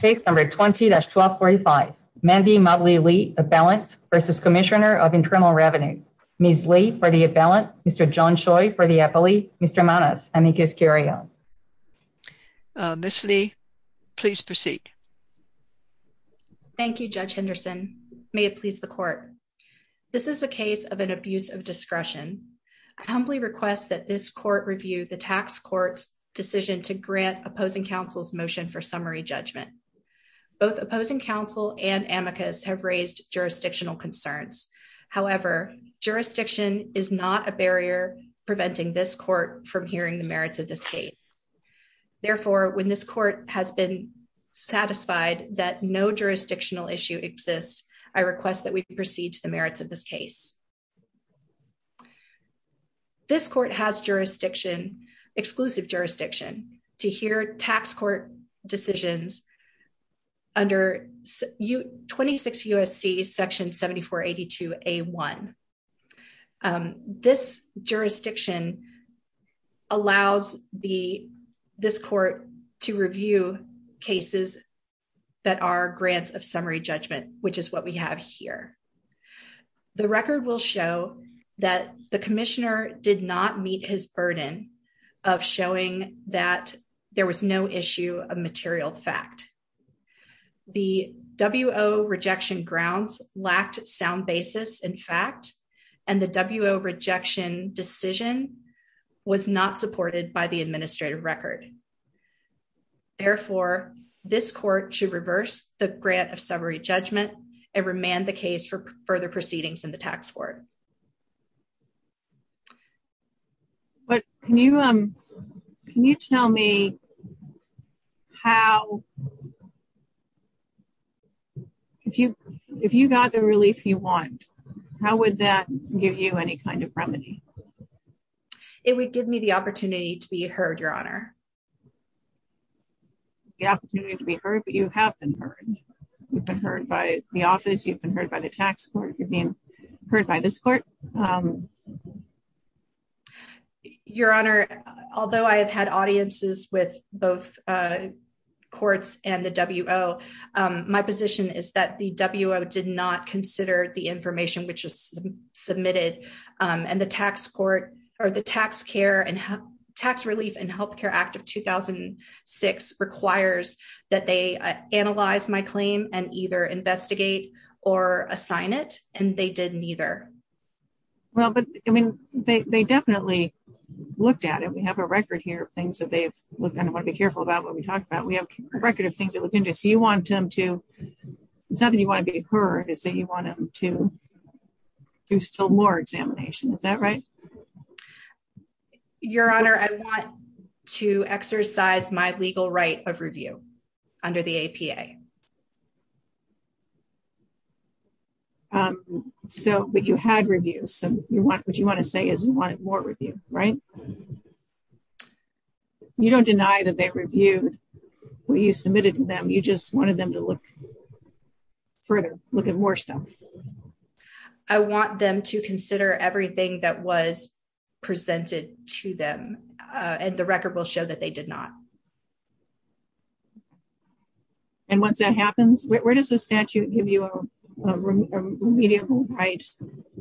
Case number 20-1245. Mandy Motley-Lee, Abalance v. Commissioner of Internal Revenue. Ms. Li, for the Abalance. Mr. John Choi, for the Appellee. Mr. Manos. Amicus Curio. Ms. Li, please proceed. Thank you, Judge Henderson. May it please the Court. This is a case of an abuse of discretion. I humbly request that this Court review the Tax Court's decision to grant opposing motion for summary judgment. Both opposing counsel and Amicus have raised jurisdictional concerns. However, jurisdiction is not a barrier preventing this Court from hearing the merits of this case. Therefore, when this Court has been satisfied that no jurisdictional issue exists, I request that we proceed to the merits of this case. This Court has exclusive jurisdiction to hear Tax Court decisions under 26 U.S.C. section 7482-A-1. This jurisdiction allows this Court to review cases that are grants of summary judgment, which is what we have here. The record will show that the Commissioner did not meet his burden of showing that there was no issue of material fact. The W.O. rejection grounds lacked sound basis in fact, and the W.O. rejection decision was not supported by the administrative record. Therefore, this Court should reverse the grant of summary judgment and remand the case for further proceedings in the Tax Court. But can you tell me how, if you got the relief you want, how would that give you any kind of remedy? It would give me the opportunity to be heard, Your Honor. The opportunity to be heard, but you have been heard. You've been heard by the office, you've been heard by the Tax Court, you're being heard by this Court. Your Honor, although I have had audiences with both Courts and the W.O., my position is that the W.O. did not consider the information which was submitted, and the Tax Relief and Health Care Act of 2006 requires that they analyze my claim and either investigate or assign it, and they did neither. Well, but I mean, they definitely looked at it. We have a record here of things that they have looked at, and I want to be careful about what we talk about. We have a record of things you want them to, it's not that you want to be heard, it's that you want them to do still more examination. Is that right? Your Honor, I want to exercise my legal right of review under the APA. So, but you had reviews, and what you want to say is you wanted more review, right? Yes. You don't deny that they reviewed what you submitted to them, you just wanted them to look further, look at more stuff. I want them to consider everything that was presented to them, and the record will show that they did not. And once that happens, where does the statute give you a remedial right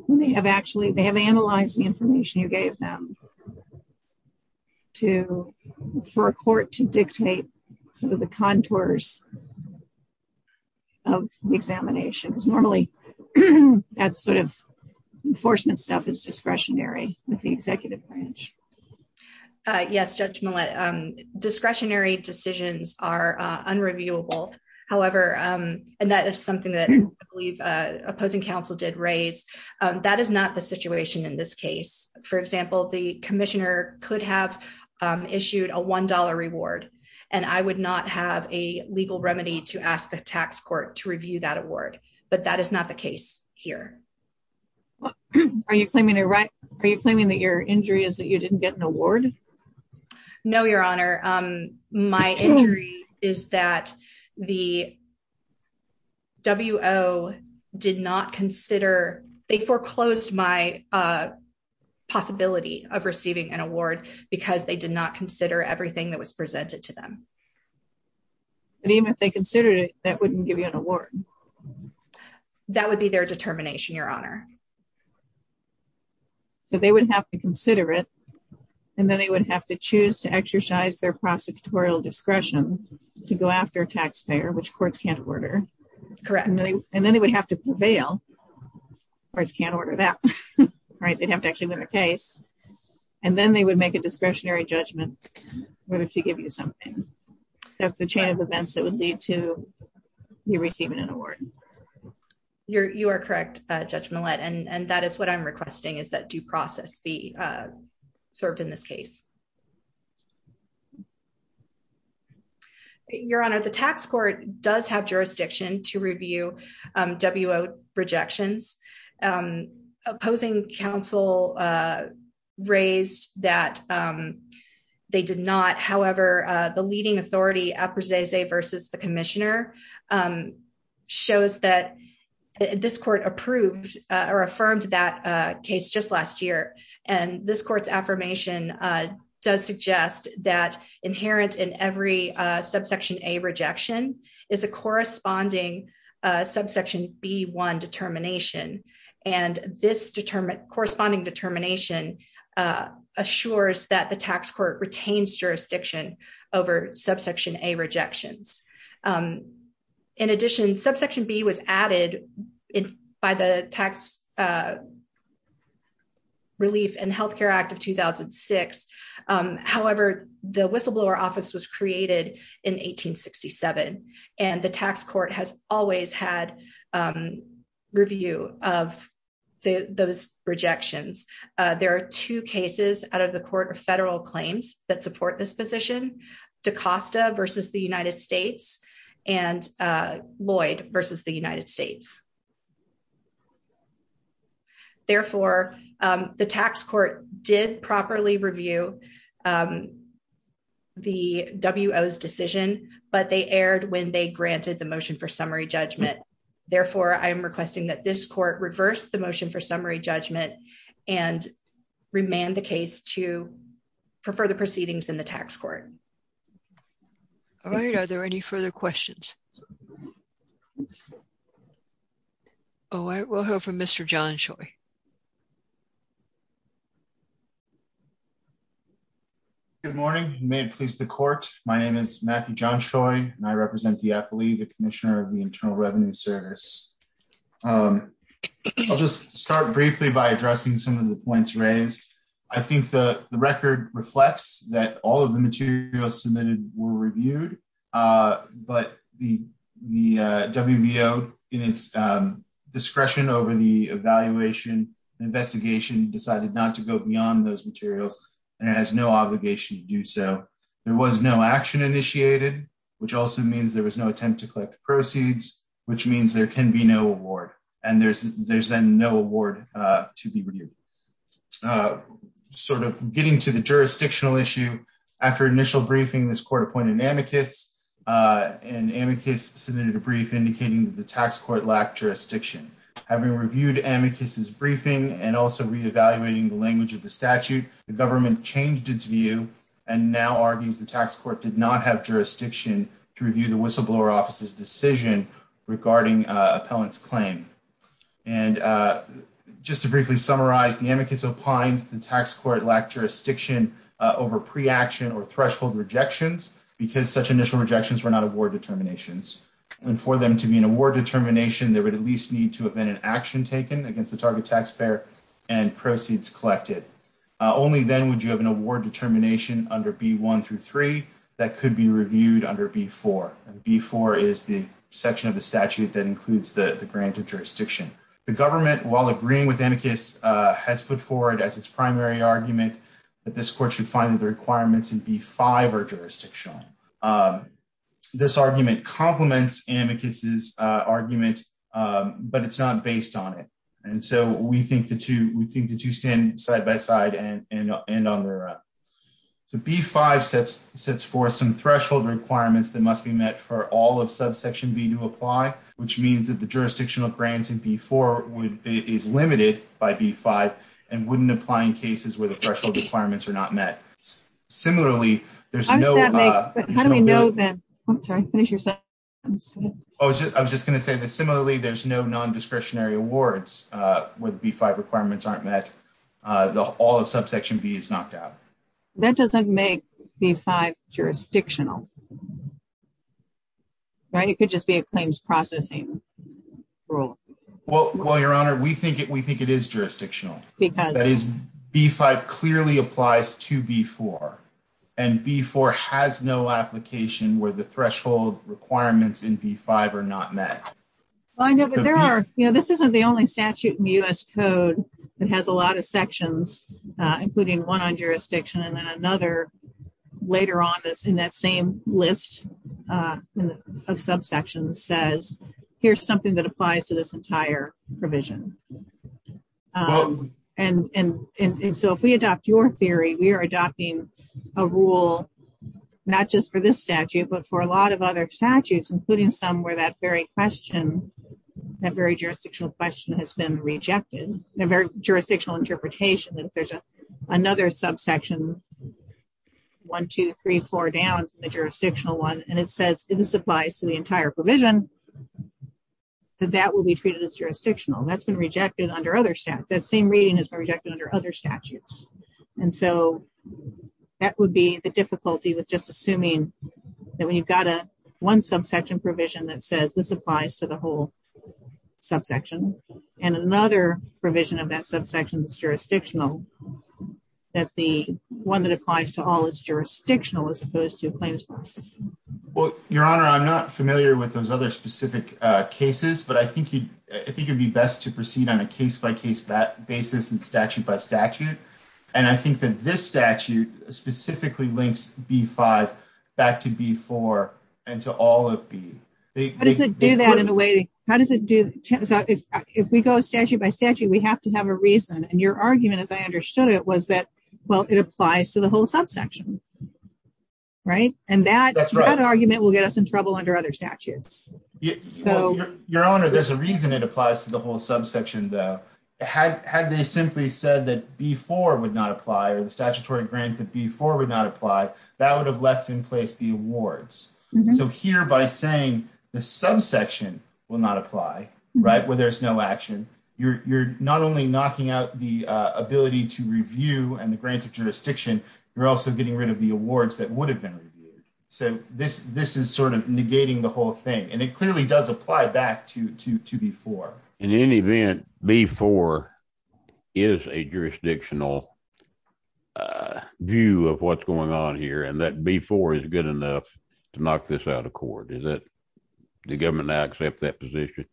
when they have actually, they have analyzed the information you gave them to, for a court to dictate some of the contours of the examination? Because normally, that sort of enforcement stuff is discretionary with the executive branch. Yes, Judge Millett, discretionary decisions are unreviewable. However, and that is something that I believe opposing counsel did raise, that is not the situation in this case. For example, the commissioner could have issued a $1 reward, and I would not have a legal remedy to ask the tax court to review that award, but that is not the case here. Are you claiming that your injury is that you didn't get an award? No, Your Honor. My injury is that the foreclosed my possibility of receiving an award because they did not consider everything that was presented to them. But even if they considered it, that wouldn't give you an award? That would be their determination, Your Honor. So they would have to consider it, and then they would have to choose to exercise their prosecutorial discretion to go after a taxpayer, which courts can't order. Correct. And then they would have to prevail. Courts can't order that, right? They'd have to actually win the case, and then they would make a discretionary judgment whether to give you something. That's the chain of events that would lead to you receiving an award. You are correct, Judge Millett, and that is what I'm requesting is that due process be approved. Your Honor, the tax court does have jurisdiction to review W.O. rejections. Opposing counsel raised that they did not. However, the leading authority, Aprezze versus the commissioner, shows that this court approved or affirmed that case just last year, and this court's that inherent in every subsection A rejection is a corresponding subsection B-1 determination, and this corresponding determination assures that the tax court retains jurisdiction over subsection A rejections. In addition, subsection B was added by the Tax Act of 2006. However, the whistleblower office was created in 1867, and the tax court has always had review of those rejections. There are two cases out of the court of federal claims that support this position, DaCosta versus the United States and Lloyd versus the United States. Therefore, the tax court did properly review the W.O.'s decision, but they erred when they granted the motion for summary judgment. Therefore, I am requesting that this court reverse the motion for summary judgment and remand the case to for further proceedings in the tax court. All right. Are there any further questions? Oh, I will hear from Mr. John Choi. Good morning. May it please the court, my name is Matthew John Choi, and I represent the appellee, the commissioner of the Internal Revenue Service. I'll just start briefly by addressing some of the points raised. I think the record reflects that all of the materials submitted were reviewed, but the WBO, in its discretion over the evaluation and investigation, decided not to go beyond those materials and has no obligation to do so. There was no action initiated, which also means there was no attempt to collect proceeds, which means there can be no award, and there's then no award to be reviewed. Now, sort of getting to the jurisdictional issue, after initial briefing, this court appointed amicus, and amicus submitted a brief indicating that the tax court lacked jurisdiction. Having reviewed amicus' briefing and also reevaluating the language of the statute, the government changed its view and now argues the tax court did not have jurisdiction to review the whistleblower office's decision regarding appellant's claim. And just to briefly summarize, the amicus opined the tax court lacked jurisdiction over pre-action or threshold rejections, because such initial rejections were not award determinations. And for them to be an award determination, there would at least need to have been an action taken against the target taxpayer and proceeds collected. Only then would you have an award determination under B1 through 3 that could be reviewed under B4, and B4 is the section of the statute that includes the grant of jurisdiction. The government, while agreeing with amicus, has put forward as its primary argument that this court should find that the requirements in B5 are jurisdictional. This argument complements amicus' argument, but it's not based on it. And so we think the two stand side by side and on their own. So B5 sets forth some threshold requirements that must be met for all of subsection B to apply, which means that the jurisdictional grant in B4 is limited by B5 and wouldn't apply in cases where the threshold requirements are not met. Similarly, there's no... How does that make... How do we know that... I'm sorry, finish your sentence. I was just going to say that similarly, there's no non-discretionary awards where the B5 requirements aren't met. All of subsection B is knocked out. That doesn't make B5 jurisdictional, right? It could just be a claims processing rule. Well, Your Honor, we think it is jurisdictional. Because? That is, B5 clearly applies to B4, and B4 has no application where the threshold requirements in B5 are not met. I know, but there are... You know, this isn't the only statute in the U.S. Code that has a lot of sections, including one on jurisdiction, and then another later on that's in that same list of subsections says, here's something that applies to this entire provision. And so, if we adopt your theory, we are adopting a rule, not just for this statute, but for a lot of other statutes, including some where that very question, that very jurisdictional question has been rejected, the very jurisdictional interpretation that if there's another subsection, one, two, three, four down from the jurisdictional one, and it says this applies to the entire provision, that that will be treated as jurisdictional. That's been rejected under other statutes. That same reading has been rejected under other statutes. And so, that would be the difficulty with just assuming that when you've got a one subsection provision that says this applies to the whole subsection, and another provision of that subsection is jurisdictional, that the one that applies to all is jurisdictional, as opposed to a claims process. Well, Your Honor, I'm not familiar with those other specific cases, but I think it would be best to proceed on a case-by-case basis and statute-by-statute. And I think that this statute specifically links B-5 back to B-4 and to all of B. How does it do that in a way? How does it do that? If we go statute-by-statute, we have to have a reason. And your argument, as I understood it, was that, well, it applies to the whole subsection, right? And that argument will get us in trouble under other statutes. Your Honor, there's a reason it applies to the whole subsection, though. Had they simply said that B-4 would not apply, or the statutory grant that B-4 would not apply, that would have left in place the awards. So, here, by saying the subsection will not apply, right, where there's no action, you're not only knocking out the ability to review and the grant of jurisdiction, you're also getting rid of the awards that would have been reviewed. So, this is sort of negating the whole thing. And it clearly does apply back to B-4. In any event, B-4 is a jurisdictional view of what's going on here, and that B-4 is good enough to knock this out of court. Does the government now accept that position?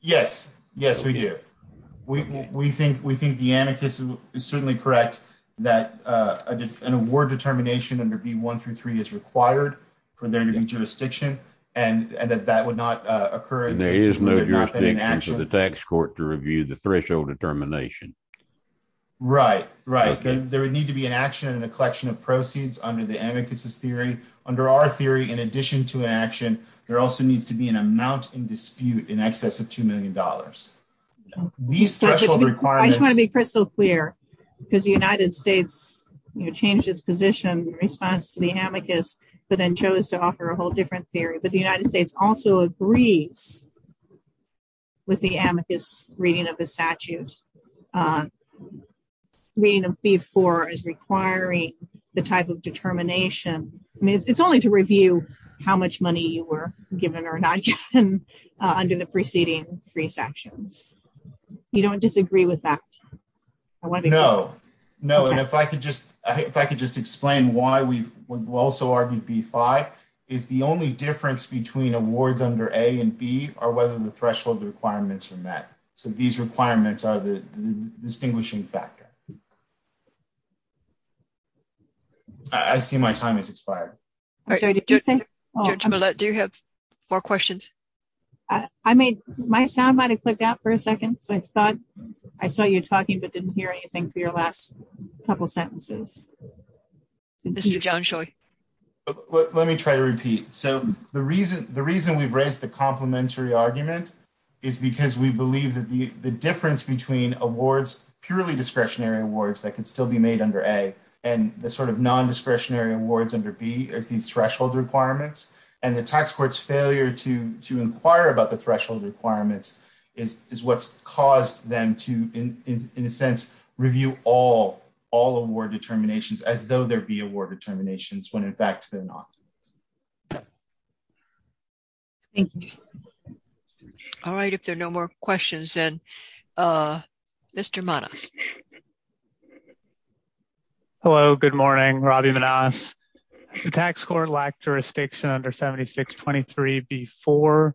Yes. Yes, we do. We think the amicus is certainly correct that an award determination under B-1 through B-3 is required for there to be jurisdiction, and that that would not occur. And there is no jurisdiction for the tax court to review the threshold determination. Right. Right. There would need to be an action and a collection of proceeds under the amicus's theory. In addition to an action, there also needs to be an amount in dispute in excess of two million dollars. These threshold requirements... I just want to be crystal clear, because the United States, you know, changed its position in response to the amicus, but then chose to offer a whole different theory. But the United States also agrees with the amicus reading of how much money you were given or not given under the preceding three sections. You don't disagree with that? No. No. And if I could just explain why we've also argued B-5 is the only difference between awards under A and B are whether the threshold requirements are met. So these requirements are the distinguishing factor. I see my time has expired. I'm sorry, did you say? Judge Millett, do you have more questions? I made... my sound might have clicked out for a second, so I thought... I saw you talking, but didn't hear anything for your last couple sentences. Mr. Johnshoy. Let me try to repeat. So the reason we've raised the complementary argument is because we believe that the difference between awards purely discretionary awards that can still be made under A and the sort of non-discretionary awards under B is these threshold requirements. And the tax court's failure to inquire about the threshold requirements is what's caused them to, in a sense, review all award determinations as though there be award determinations when, in fact, they're not. Thank you. All right. If there are no more questions, then Mr. Manas. Hello. Good morning. Robby Manas. The tax court lacked jurisdiction under 7623B4,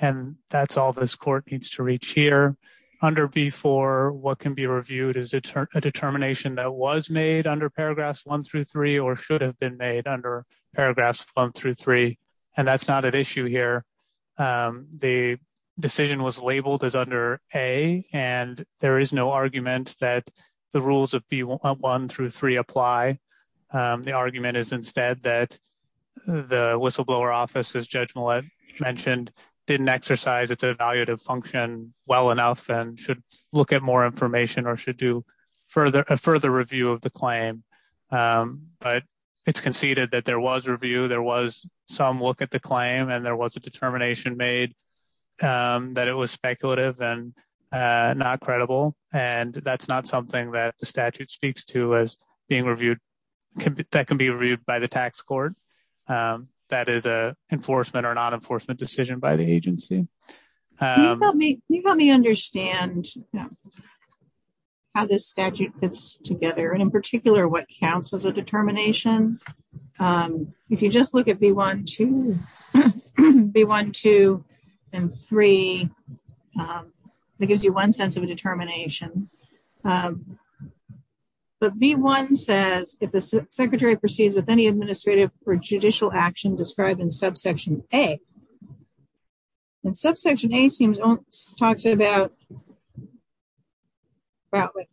and that's all this court needs to reach here. Under B4, what can be reviewed is a determination that was made under paragraphs one through three or should have been made under one through three, and that's not at issue here. The decision was labeled as under A, and there is no argument that the rules of B1 through three apply. The argument is instead that the whistleblower office, as Judge Millett mentioned, didn't exercise its evaluative function well enough and should look at more information or should do a further review of claim. But it's conceded that there was review. There was some look at the claim, and there was a determination made that it was speculative and not credible. And that's not something that the statute speaks to as being reviewed. That can be reviewed by the tax court. That is an enforcement or non-enforcement decision by the agency. Can you help me understand how this statute fits together and in particular what counts as a determination? If you just look at B1, 2, and 3, that gives you one sense of a determination. But B1 says, if the secretary proceeds with any administrative or judicial action described in subsection A, it talks about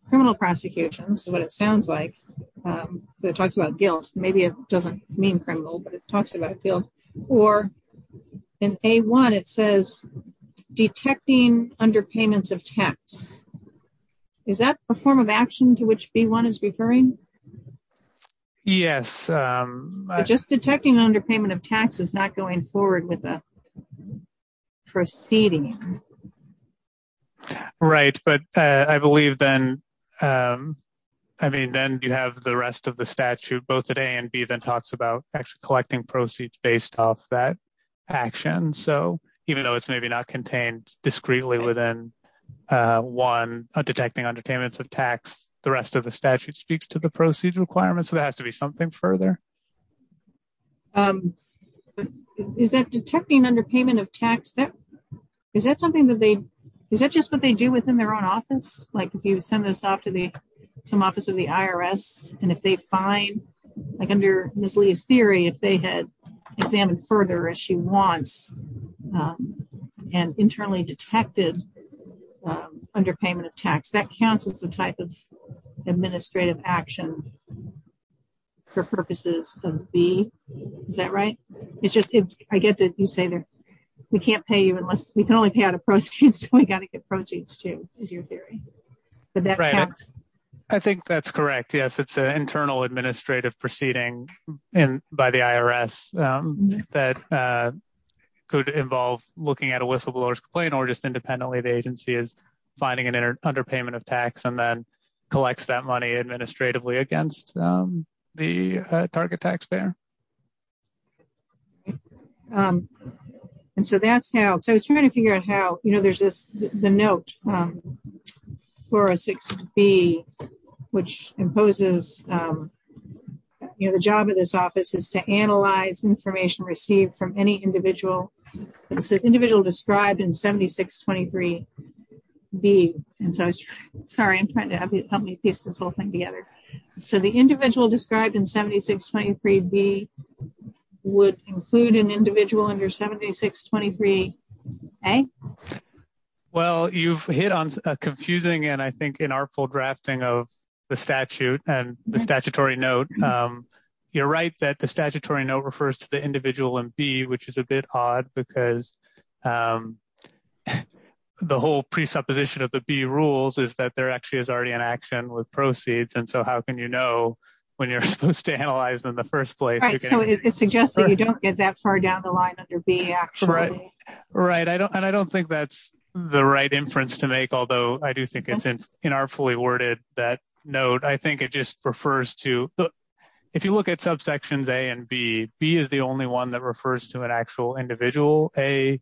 criminal prosecution. That's what it sounds like. It talks about guilt. Maybe it doesn't mean criminal, but it talks about guilt. Or in A1, it says detecting underpayments of tax. Is that a form of action to which B1 is referring? Yes. Just detecting underpayment of tax is not going forward with the proceeding. Right. But I believe then, I mean, then you have the rest of the statute, both at A and B, that talks about actually collecting proceeds based off that action. So even though it's maybe not contained discreetly within 1, detecting underpayments of tax, the rest of the statute speaks to the procedure requirements, so there has to be something further. Is that detecting underpayment of tax, is that just what they do within their own office? Like if you send this off to some office of the IRS and if they find, like under Ms. Lee's theory, if they had examined further as she wants and internally detected underpayment of tax, that counts as the type of administrative action for purposes of B. Is that right? It's just, I get that you say that we can't pay you unless, we can only pay out of proceeds, so we got to get proceeds too, is your theory. But that counts. I think that's correct. Yes, it's an internal administrative proceeding by the IRS that could involve looking at a whistleblower's complaint or just independently the agency is finding an underpayment of tax and then collects that money administratively against the target taxpayer. And so that's how, so I was trying to figure out how, you know, there's this, the note 406B, which imposes, you know, the job of this office is to analyze information received from any individual. It says individual described in 7623B. And so, sorry, I'm trying to help me piece this whole thing together. So the individual described in 7623B would include an individual under 7623A? Well, you've hit on a confusing and I think inartful drafting of the statute and the because the whole presupposition of the B rules is that there actually is already an action with proceeds. And so how can you know when you're supposed to analyze them in the first place? Right, so it suggests that you don't get that far down the line under B actually. Right, and I don't think that's the right inference to make, although I do think it's inartfully worded, that note. I think it just refers to, if you look at subsections A and B, B is the only one that refers to an actual individual. A,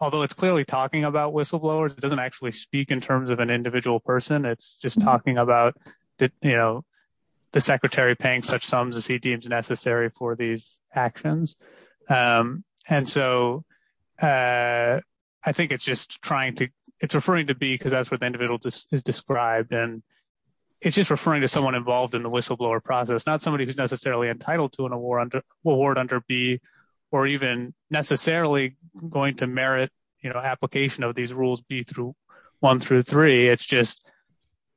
although it's clearly talking about whistleblowers, it doesn't actually speak in terms of an individual person. It's just talking about, you know, the secretary paying such sums as he deems necessary for these actions. And so I think it's just trying to, it's referring to B, because that's what the individual is described. And it's just referring to someone involved in the whistleblower process, not somebody who's necessarily entitled to an award under B, or even necessarily going to merit, you know, application of these rules B through 1 through 3. It's just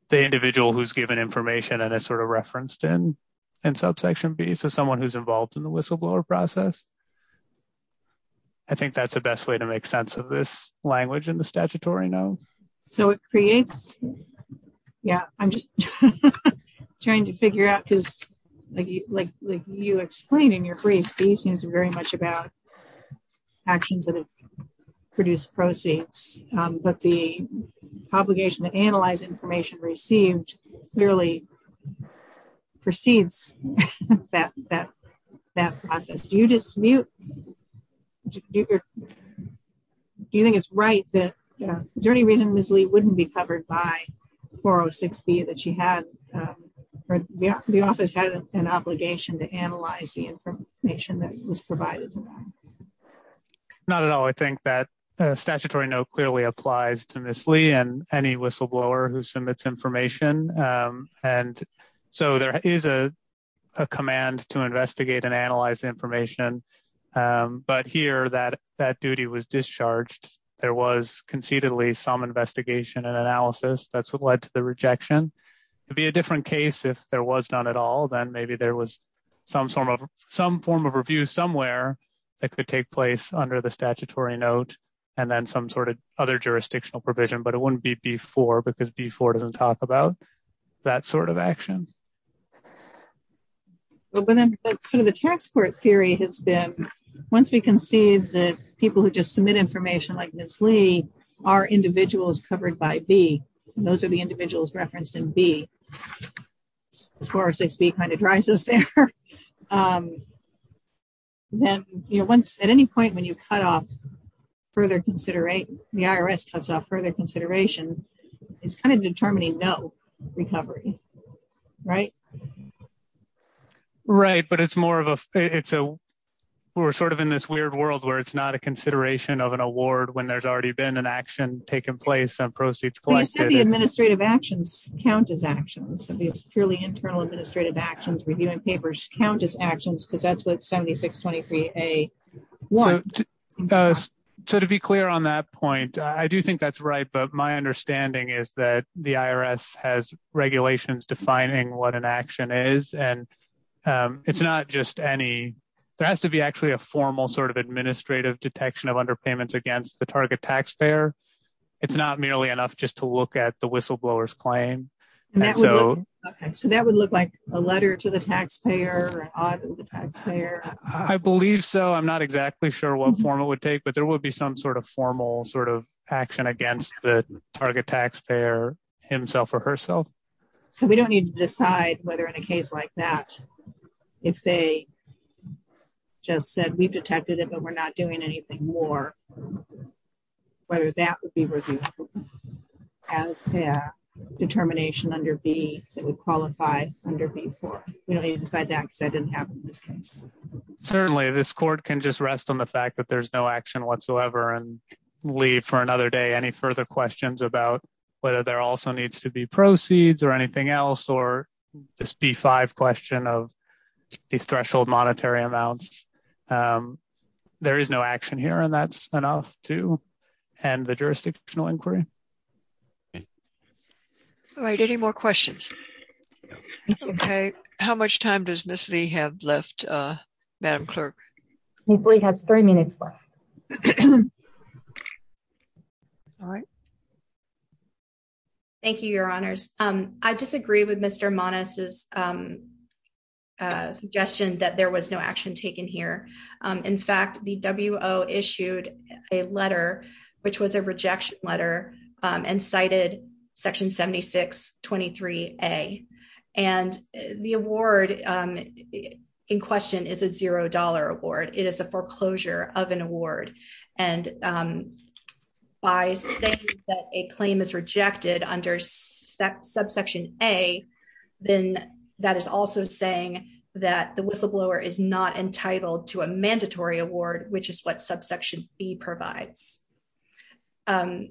the individual who's given information and it's sort of referenced in subsection B, so someone who's involved in the whistleblower process. I think that's the best way to make sense of this language in the statutory now. So it creates, yeah, I'm just trying to figure out, because like you explained in your brief, B seems very much about actions that have produced proceeds, but the obligation to analyze information received clearly precedes that process. Do you dismute, do you think it's right that, is there any reason Ms. Lee wouldn't be covered by 406B that she had, or the office had an obligation to analyze the information that was provided? Not at all. I think that statutory no clearly applies to Ms. Lee and any whistleblower who submits information. And so there is a command to investigate and analyze information, but here that duty was discharged. There was concededly some investigation and analysis, that's what led to the rejection. It'd be a different case if there was none at all, then maybe there was some form of review somewhere that could take place under the statutory note, and then some sort of other jurisdictional provision, but it wouldn't be B4, because B4 doesn't talk about that sort of action. But then sort of the tax court theory has been, once we can see that people who just submit information like Ms. Lee are individuals covered by B, and those are the individuals referenced in B, 406B kind of drives us there, then at any point when you cut off further consideration, the IRS cuts off further consideration, it's kind of determining no recovery, right? Right, but it's more of a, it's a, we're sort of in this weird world where it's not a consideration of an award when there's already been an action taking place and proceeds collected. I said the administrative actions count as actions, it's purely internal administrative actions, reviewing papers count as actions because that's what 7623A wants. So to be clear on that point, I do think that's right, but my understanding is that the IRS has regulations defining what an action is, and it's not just any, there has to be actually a formal sort of administrative detection of underpayments against the target taxpayer. It's not merely enough just to look at the whistleblower's claim. Okay, so that would look like a letter to the taxpayer, an audit to the taxpayer. I believe so, I'm not exactly sure what form it would take, but there would be some sort of formal sort of action against the target taxpayer himself or herself. So we don't need to decide whether in a case like that, if they just said we've detected it but we're not doing anything more, whether that would be reviewed as a determination under B that would qualify under B4. We don't need to decide that because that didn't happen in this case. Certainly, this court can just rest on the fact that there's no action whatsoever and leave for another day any further questions about whether there also needs to be proceeds or anything else or this B5 question of these threshold monetary amounts. There is no action here and that's enough to end the jurisdictional inquiry. All right, any more questions? Okay, how much time does Ms. Lee have left, Madam Clerk? Ms. Lee has three minutes left. All right. Thank you, Your Honors. I disagree with Mr. Manas' suggestion that there was no action taken here. In fact, the WO issued a letter which was a foreclosure of an award and by saying that a claim is rejected under subsection A, then that is also saying that the whistleblower is not entitled to a mandatory award which is what subsection B provides. I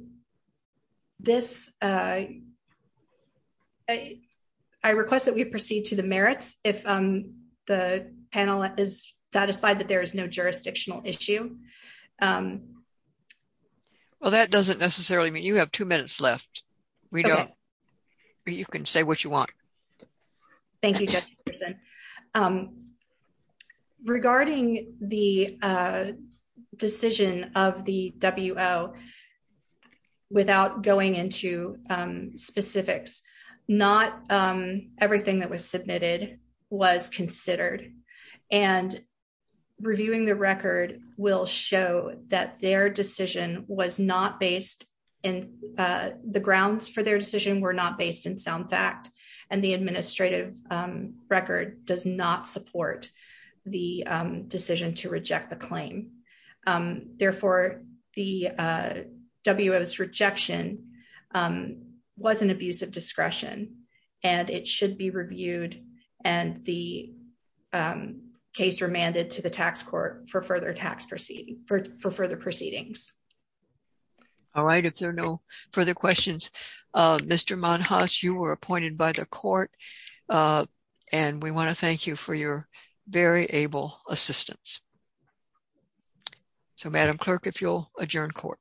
request that we proceed to the merits. If the panel is satisfied that there is no jurisdictional issue. Well, that doesn't necessarily mean you have two minutes left. You can say what you want. Thank you, Judge Peterson. Regarding the decision of the WO, without going into specifics, not everything that was submitted was considered. Reviewing the record will show that the grounds for their decision were not based in sound fact and the administrative record does not support the decision to reject the claim. Therefore, the WO's rejection was an abuse of discretion and it should be reviewed and the case remanded to the tax court for further proceedings. All right. If there are no further questions, Mr. Manas, you were appointed by the court and we want to thank you for your very able assistance. So, Madam Clerk, if you'll adjourn court.